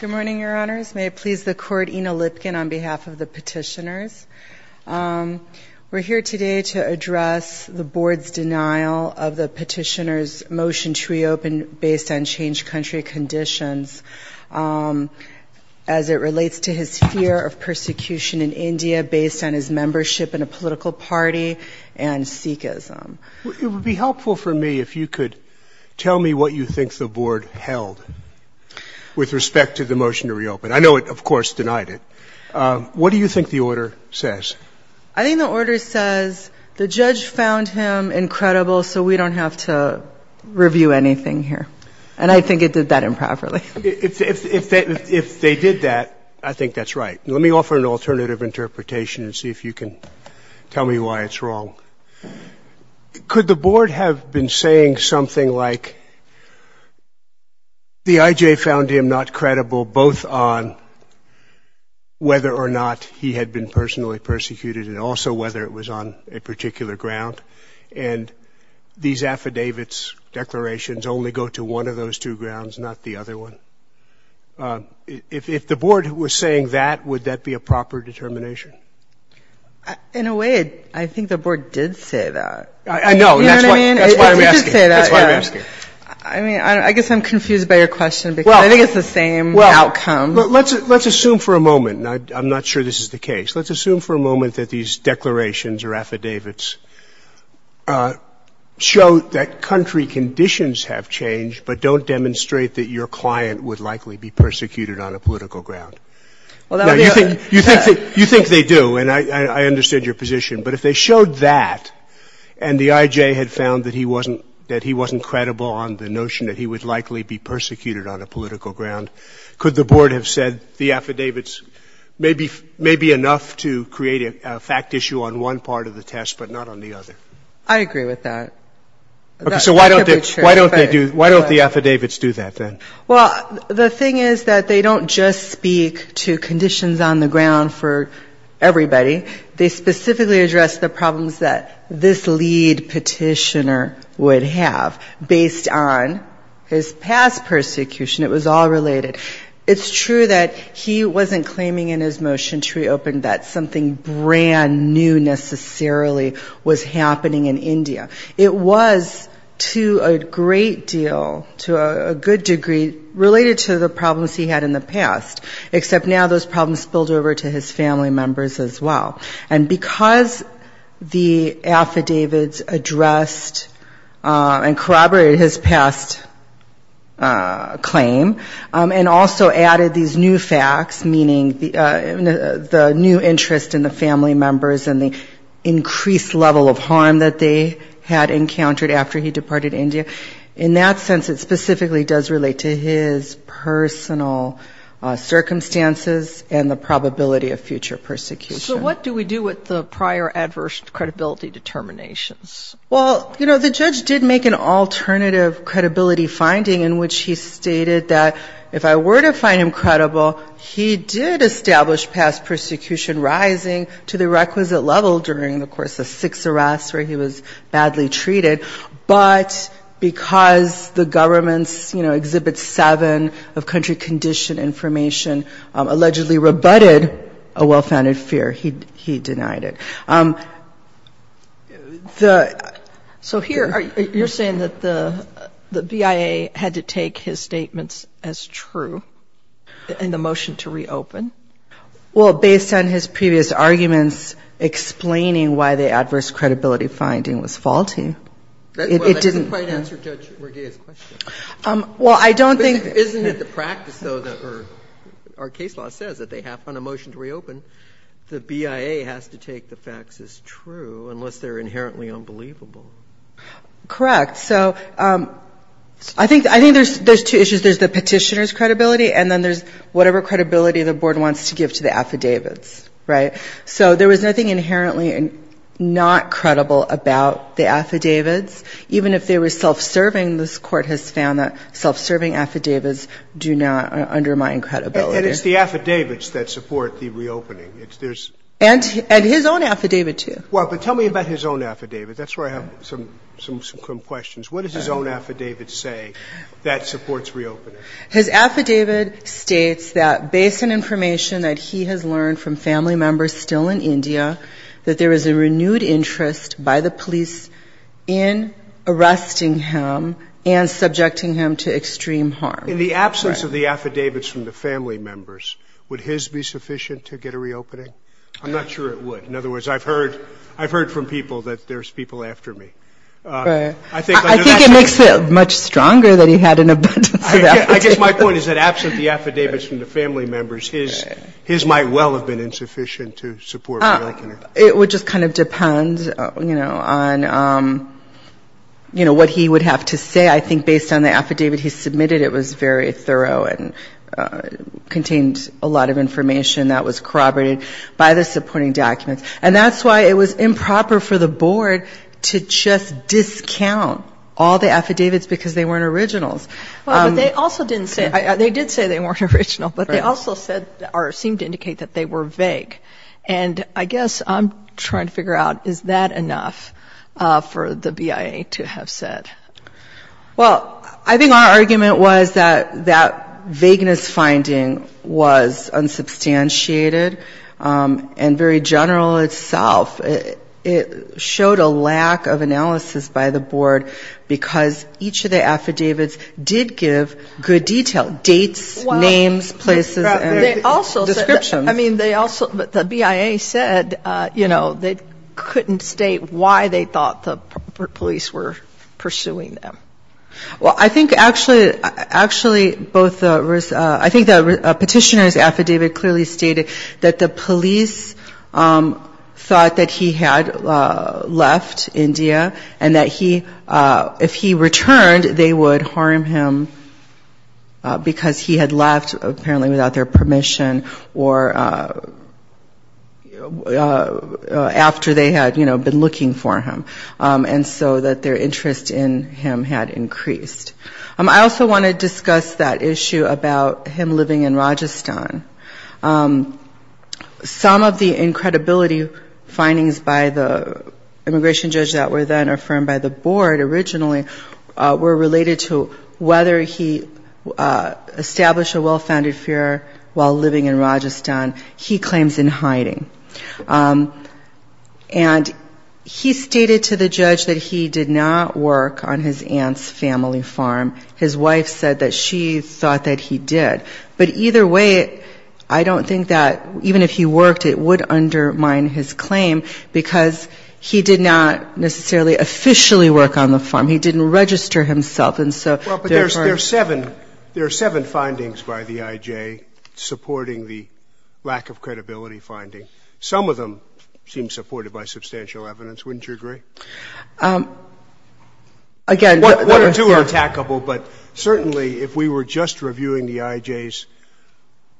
Good morning, Your Honors. May it please the Court, Ina Lipkin on behalf of the petitioners. We're here today to address the Board's denial of the petitioner's motion to reopen based on changed country conditions as it relates to his fear of persecution in India based on his membership in a political party and Sikhism. It would be helpful for me if you could tell me what you think the Board held with respect to the motion to reopen. I know it, of course, denied it. What do you think the order says? I think the order says the judge found him incredible, so we don't have to review anything here. And I think it did that improperly. If they did that, I think that's right. Let me offer an alternative interpretation and see if you can tell me why it's wrong. Could the Board have been saying something like the IJ found him not credible, both on whether or not he had been personally persecuted and also whether it was on a particular ground, and these affidavits, declarations only go to one of those two grounds, not the other one? If the Board was saying that, would that be a proper determination? In a way, I think the Board did say that. I know. That's why I'm asking. That's why I'm asking. I mean, I guess I'm confused by your question because I think it's the same outcome. Well, let's assume for a moment, and I'm not sure this is the case. Let's assume for a moment that these declarations or affidavits show that country conditions have changed, but don't demonstrate that your client would likely be persecuted on a political ground. Now, you think they do, and I understand your position. But if they showed that and the IJ had found that he wasn't credible on the notion that he would likely be persecuted on a political ground, could the Board have said the affidavits may be enough to create a fact issue on one part of the test but not on the other? I agree with that. So why don't they do, why don't the affidavits do that, then? Well, the thing is that they don't just speak to conditions on the ground for everybody. They specifically address the problems that this lead petitioner would have based on his past persecution. It was all related. It's true that he wasn't claiming in his motion to reopen that something brand new necessarily was happening in India. It was to a great deal, to a good degree, related to the problems he had in the past, except now those problems spilled over to his family members as well. And because the affidavits addressed and corroborated his past claim, and also added these new facts, meaning the new interest in the family members and the increased level of harm that they had encountered after he departed India, in that sense it specifically does relate to his personal circumstances and the probability of future persecution. So what do we do with the prior adverse credibility determinations? Well, you know, the judge did make an alternative credibility finding in which he stated that if I were to find him credible, he did establish past persecution rising to the level of six arrests where he was badly treated. But because the government's, you know, Exhibit 7 of country condition information allegedly rebutted a well-founded fear, he denied it. So here you're saying that the BIA had to take his statements as true in the motion to reopen? Well, based on his previous arguments explaining why the adverse credibility finding was faulty, it didn't. Well, that doesn't quite answer Judge Rodea's question. Well, I don't think. Isn't it the practice, though, that our case law says that they have, on a motion to reopen, the BIA has to take the facts as true unless they're inherently unbelievable? Correct. So I think there's two issues. There's the petitioner's credibility, and then there's whatever credibility the board wants to give to the affidavits, right? So there was nothing inherently not credible about the affidavits. Even if they were self-serving, this Court has found that self-serving affidavits do not undermine credibility. And it's the affidavits that support the reopening. And his own affidavit, too. Well, but tell me about his own affidavit. That's where I have some questions. What does his own affidavit say that supports reopening? His affidavit states that, based on information that he has learned from family members still in India, that there is a renewed interest by the police in arresting him and subjecting him to extreme harm. In the absence of the affidavits from the family members, would his be sufficient to get a reopening? I'm not sure it would. In other words, I've heard from people that there's people after me. Right. I think it makes it much stronger that he had an abundance of affidavits. I guess my point is that absent the affidavits from the family members, his might well have been insufficient to support reopening. It would just kind of depend, you know, on, you know, what he would have to say. I think based on the affidavit he submitted, it was very thorough and contained a lot of information that was corroborated by the supporting documents. And that's why it was improper for the board to just discount all the affidavits because they weren't originals. Well, but they also didn't say, they did say they weren't original. Right. But they also said or seemed to indicate that they were vague. And I guess I'm trying to figure out, is that enough for the BIA to have said? Well, I think our argument was that that vagueness finding was unsubstantiated and very general itself. It showed a lack of analysis by the board because each of the affidavits did give good detail, dates, names, places, and descriptions. Well, they also said, I mean, they also, the BIA said, you know, they couldn't state why they thought the police were pursuing them. Well, I think actually both the, I think the petitioner's affidavit clearly stated that the police thought that he had left India and that he, if he returned, they would harm him because he had left apparently without their permission or after they had, you know, been looking for him. And so that their interest in him had increased. I also want to discuss that issue about him living in Rajasthan. Some of the incredibility findings by the immigration judge that were then affirmed by the board originally were related to whether he established a well-founded fear while living in Rajasthan. He claims in hiding. And he stated to the judge that he did not work on his aunt's family farm. His wife said that she thought that he did. But either way, I don't think that even if he worked, it would undermine his claim because he did not necessarily officially work on the farm. He didn't register himself. And so there are. There are seven findings by the IJ supporting the lack of credibility finding. Some of them seem supported by substantial evidence, wouldn't you agree? Again. One or two are attackable, but certainly if we were just reviewing the IJ's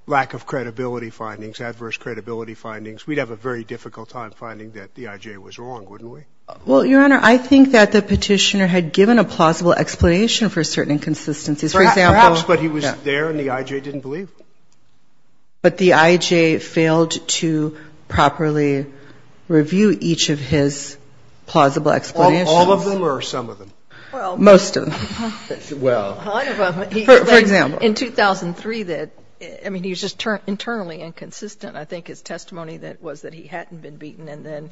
lack of credibility findings, adverse credibility findings, we'd have a very difficult time finding that the IJ was wrong, wouldn't we? Well, Your Honor, I think that the Petitioner had given a plausible explanation for certain inconsistencies. For example. Perhaps, but he was there and the IJ didn't believe him. But the IJ failed to properly review each of his plausible explanations. All of them or some of them? Most of them. Well. For example. In 2003, I mean, he was just internally inconsistent. I think his testimony was that he hadn't been beaten. And then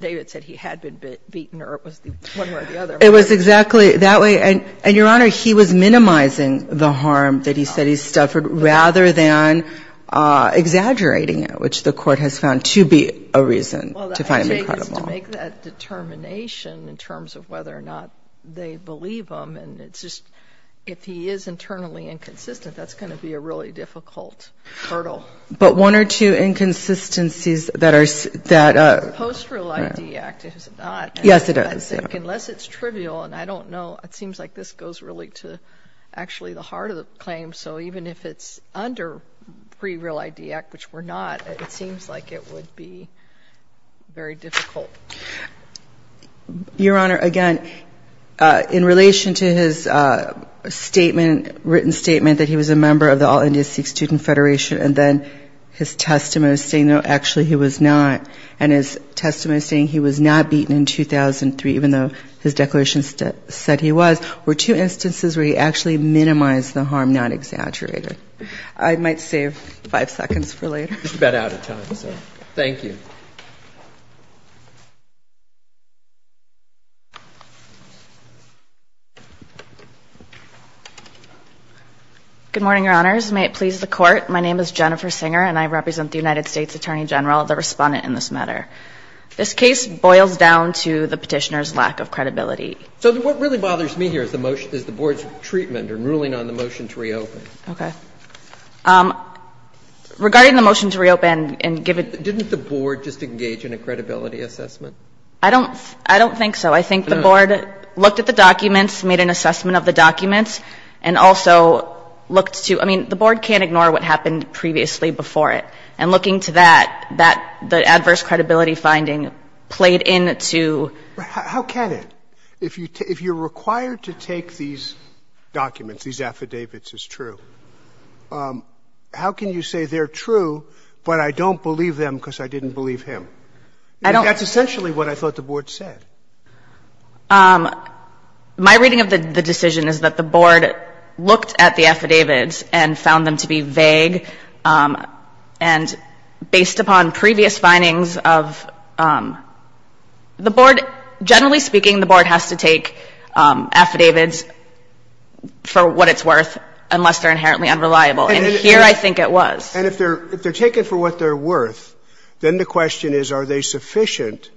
David said he had been beaten or it was one way or the other. It was exactly that way. And, Your Honor, he was minimizing the harm that he said he suffered rather than exaggerating it, which the Court has found to be a reason to find him credible. Well, the IJ needs to make that determination in terms of whether or not they believe him. And it's just if he is internally inconsistent, that's going to be a really difficult hurdle. But one or two inconsistencies that are that. The Post-Real ID Act, is it not? Yes, it is. I think unless it's trivial, and I don't know, it seems like this goes really to actually the heart of the claim. So even if it's under Pre-Real ID Act, which we're not, it seems like it would be very difficult. Your Honor, again, in relation to his statement, written statement, that he was a victim, and his testimony saying, no, actually, he was not, and his testimony saying he was not beaten in 2003, even though his declaration said he was, were two instances where he actually minimized the harm, not exaggerated. I might save five seconds for later. Just about out of time. Thank you. Good morning, Your Honors. May it please the Court. My name is Jennifer Singer, and I represent the United States Attorney General, the Respondent in this matter. This case boils down to the Petitioner's lack of credibility. So what really bothers me here is the motion, is the Board's treatment or ruling on the motion to reopen. Okay. Regarding the motion to reopen and give it to the Board. Didn't the Board just engage in a credibility assessment? I don't think so. I think the Board looked at the documents, made an assessment of the documents, and also looked to, I mean, the Board can't ignore what happened previously before it. And looking to that, that, the adverse credibility finding played into. How can it? If you're required to take these documents, these affidavits as true, how can you say they're true, but I don't believe them because I didn't believe him? I don't. That's essentially what I thought the Board said. My reading of the decision is that the Board looked at the affidavits and found them to be vague, and based upon previous findings of the Board, generally speaking, the Board has to take affidavits for what it's worth unless they're inherently unreliable. And here I think it was. And if they're taken for what they're worth, then the question is, are they sufficient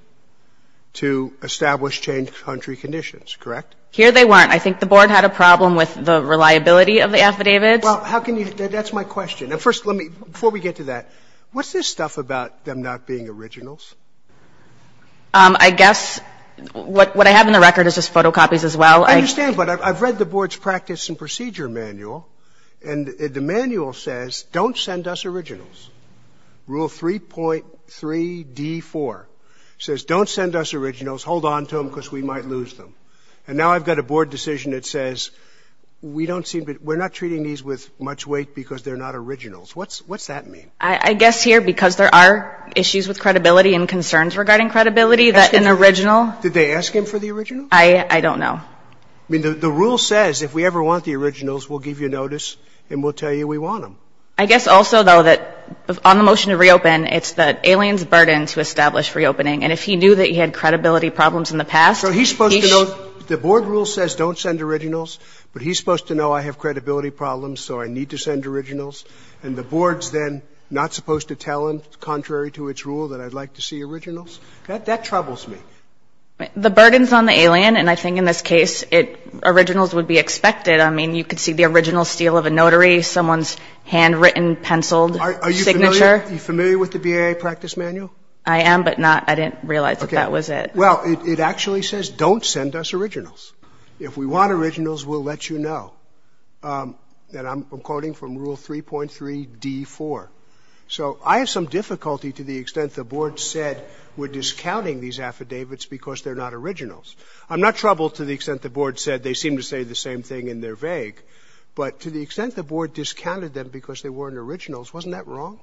to establish change country conditions, correct? Here they weren't. I think the Board had a problem with the reliability of the affidavits. Well, how can you? That's my question. First, let me, before we get to that, what's this stuff about them not being originals? I guess what I have in the record is just photocopies as well. I understand, but I've read the Board's practice and procedure manual, and the manual says don't send us originals. Rule 3.3d4 says don't send us originals. Hold on to them because we might lose them. And now I've got a Board decision that says we don't seem to be we're not treating these with much weight because they're not originals. What's that mean? I guess here because there are issues with credibility and concerns regarding credibility that an original. Did they ask him for the original? I don't know. I mean, the rule says if we ever want the originals, we'll give you notice and we'll tell you we want them. I guess also, though, that on the motion to reopen, it's the alien's burden to establish reopening. And if he knew that he had credibility problems in the past, he should. So he's supposed to know the Board rule says don't send originals, but he's supposed to know I have credibility problems, so I need to send originals. And the Board's then not supposed to tell him, contrary to its rule, that I'd like to see originals? That troubles me. The burden's on the alien, and I think in this case, originals would be expected. I mean, you could see the original steel of a notary, someone's handwritten, penciled signature. Are you familiar with the BAA practice manual? I am, but not – I didn't realize that that was it. Okay. Well, it actually says don't send us originals. If we want originals, we'll let you know. And I'm quoting from Rule 3.3d4. So I have some difficulty to the extent the Board said we're discounting these affidavits because they're not originals. I'm not troubled to the extent the Board said they seem to say the same thing and they're vague. But to the extent the Board discounted them because they weren't originals, wasn't that wrong?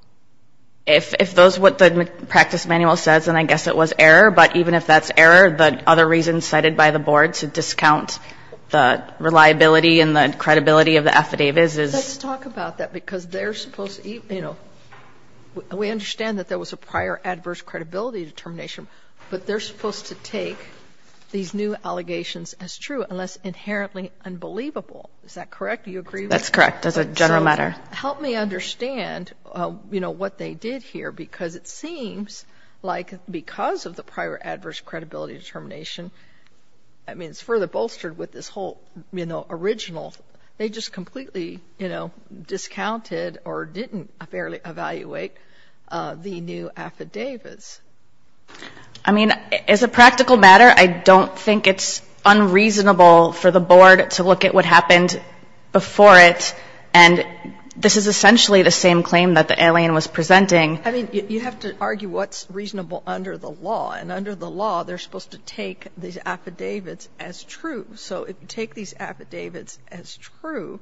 If those are what the practice manual says, then I guess it was error. But even if that's error, the other reasons cited by the Board to discount the reliability and the credibility of the affidavits is – Let's talk about that because they're supposed to – you know, we understand that there was a prior adverse credibility determination, but they're supposed to take these new allegations as true unless inherently unbelievable. Is that correct? Do you agree with that? That's correct. That's a general matter. So help me understand, you know, what they did here because it seems like because of the prior adverse credibility determination, I mean, it's further bolstered with this whole, you know, original. They just completely, you know, discounted or didn't fairly evaluate the new affidavits. I mean, as a practical matter, I don't think it's unreasonable for the Board to look at what happened before it, and this is essentially the same claim that the alien was presenting. I mean, you have to argue what's reasonable under the law. And under the law, they're supposed to take these affidavits as true. So take these affidavits as true,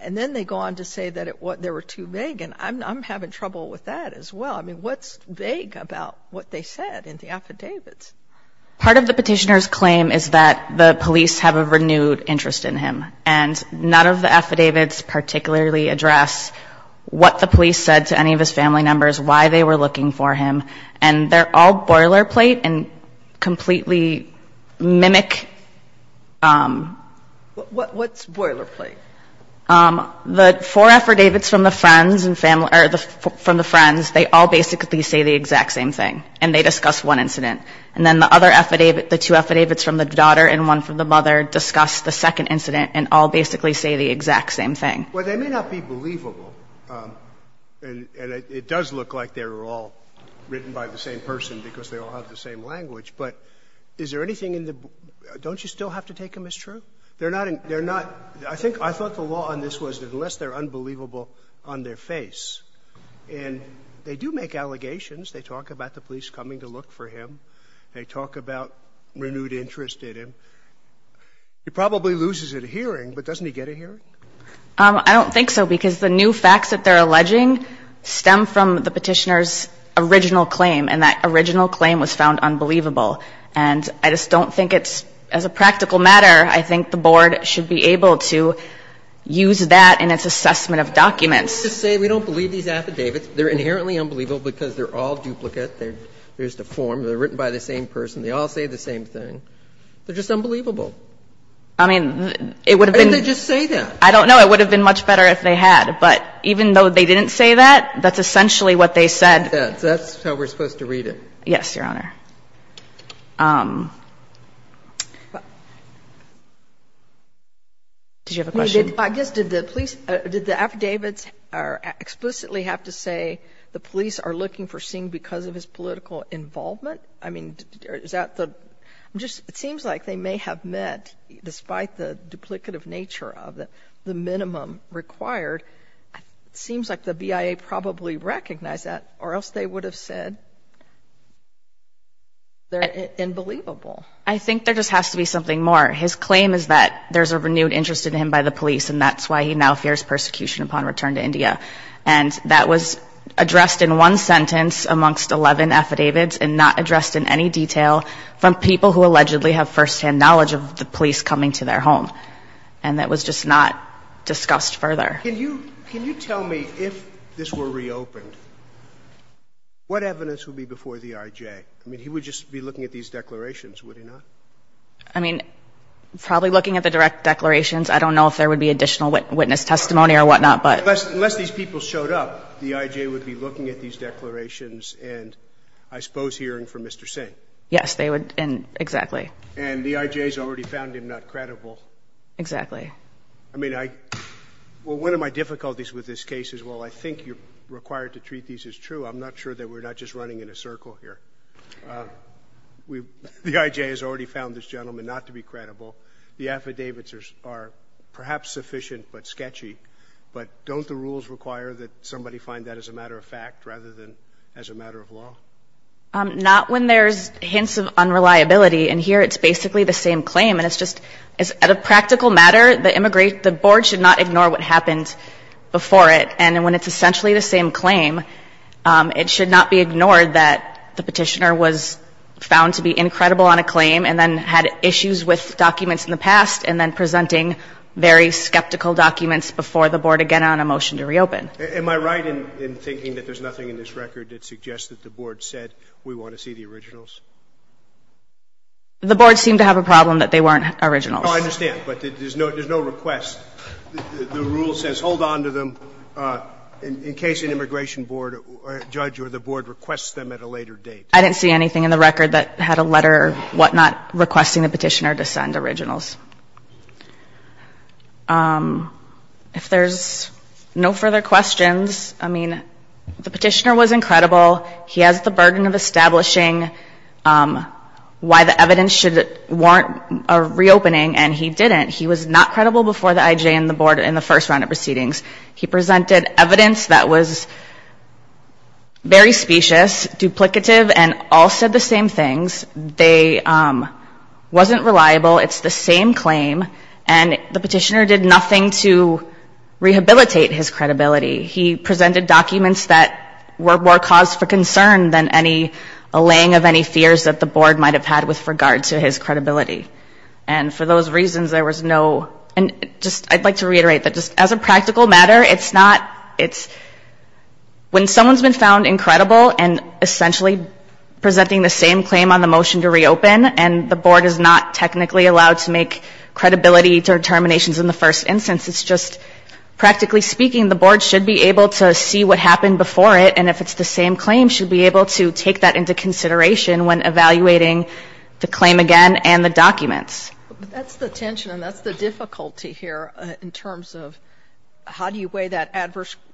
and then they go on to say that there were too vague. And I'm having trouble with that as well. I mean, what's vague about what they said in the affidavits? Part of the Petitioner's claim is that the police have a renewed interest in him. And none of the affidavits particularly address what the police said to any of his family members, why they were looking for him. And they're all boilerplate and completely mimic. What's boilerplate? The four affidavits from the friends and family or from the friends, they all basically say the exact same thing, and they discuss one incident. And then the other affidavit, the two affidavits from the daughter and one from the mother discuss the second incident and all basically say the exact same thing. Well, they may not be believable, and it does look like they were all written by the same person because they all have the same language. But is there anything in the – don't you still have to take them as true? They're not – they're not – I think – I thought the law on this was that unless they're unbelievable on their face, and they do make allegations. They talk about the police coming to look for him. They talk about renewed interest in him. He probably loses a hearing, but doesn't he get a hearing? I don't think so, because the new facts that they're alleging stem from the Petitioner's original claim, and that original claim was found unbelievable. And I just don't think it's – as a practical matter, I think the Board should be able to use that in its assessment of documents. We don't believe these affidavits. They're inherently unbelievable because they're all duplicate. They're just a form. They're written by the same person. They all say the same thing. They're just unbelievable. I mean, it would have been – Why didn't they just say that? I don't know. It would have been much better if they had. But even though they didn't say that, that's essentially what they said. That's how we're supposed to read it. Yes, Your Honor. Did you have a question? I guess, did the police – did the affidavits explicitly have to say the police are looking for seeing because of his political involvement? I mean, is that the – it seems like they may have meant, despite the duplicative nature of it, the minimum required. It seems like the BIA probably recognized that, or else they would have said, they're unbelievable. I think there just has to be something more. His claim is that there's a renewed interest in him by the police, and that's why he now fears persecution upon return to India. And that was addressed in one sentence amongst 11 affidavits and not addressed in any detail from people who allegedly have firsthand knowledge of the police coming to their home. And that was just not discussed further. Can you tell me, if this were reopened, what evidence would be before the IJ? I mean, he would just be looking at these declarations, would he not? I mean, probably looking at the direct declarations. I don't know if there would be additional witness testimony or whatnot, but – Unless these people showed up, the IJ would be looking at these declarations and, I suppose, hearing from Mr. Singh. Yes, they would. Exactly. And the IJ has already found him not credible. Exactly. I mean, I – well, one of my difficulties with this case is, well, I think you're required to treat these as true. I'm not sure that we're not just running in a circle here. The IJ has already found this gentleman not to be credible. The affidavits are perhaps sufficient but sketchy. But don't the rules require that somebody find that as a matter of fact rather than as a matter of law? Not when there's hints of unreliability. And here it's basically the same claim. And it's just – at a practical matter, the board should not ignore what happened before it. And when it's essentially the same claim, it should not be ignored that the Petitioner was found to be incredible on a claim and then had issues with documents in the past and then presenting very skeptical documents before the board again on a motion to reopen. Am I right in thinking that there's nothing in this record that suggests that the board said we want to see the originals? The board seemed to have a problem that they weren't originals. No, I understand. But there's no request. The rule says hold on to them in case an immigration board or judge or the board requests them at a later date. I didn't see anything in the record that had a letter or whatnot requesting the Petitioner to send originals. If there's no further questions, I mean, the Petitioner was incredible. He has the burden of establishing why the evidence should warrant a reopening, and he didn't. He was not credible before the IJ and the board in the first round of proceedings. He presented evidence that was very specious, duplicative, and all said the same things. They wasn't reliable. It's the same claim. And the Petitioner did nothing to rehabilitate his credibility. He presented documents that were more cause for concern than any allaying of any fears that the board might have had with regard to his credibility. And for those reasons, there was no – and just – I'd like to reiterate that just as a practical matter, it's not – it's – when someone's been found incredible and essentially presenting the same claim on the motion to reopen, and the board is not technically allowed to make credibility determinations in the first instance. It's just, practically speaking, the board should be able to see what happened before it, and if it's the same claim, should be able to take that into consideration when evaluating the claim again and the documents. But that's the tension, and that's the difficulty here in terms of how do you weigh that adverse –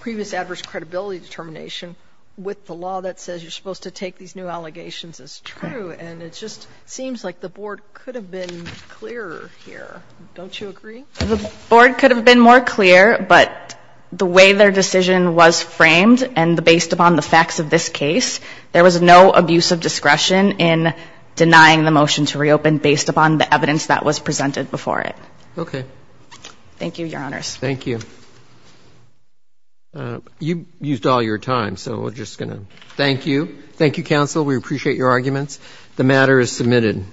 previous adverse credibility determination with the law that says you're supposed to take these new allegations as true. And it just seems like the board could have been clearer here. Don't you agree? The board could have been more clear, but the way their decision was framed and based upon the facts of this case, there was no abuse of discretion in denying the motion to reopen based upon the evidence that was presented before it. Okay. Thank you, Your Honors. Thank you. You used all your time, so we're just going to thank you. Thank you, counsel. We appreciate your arguments. The matter is submitted.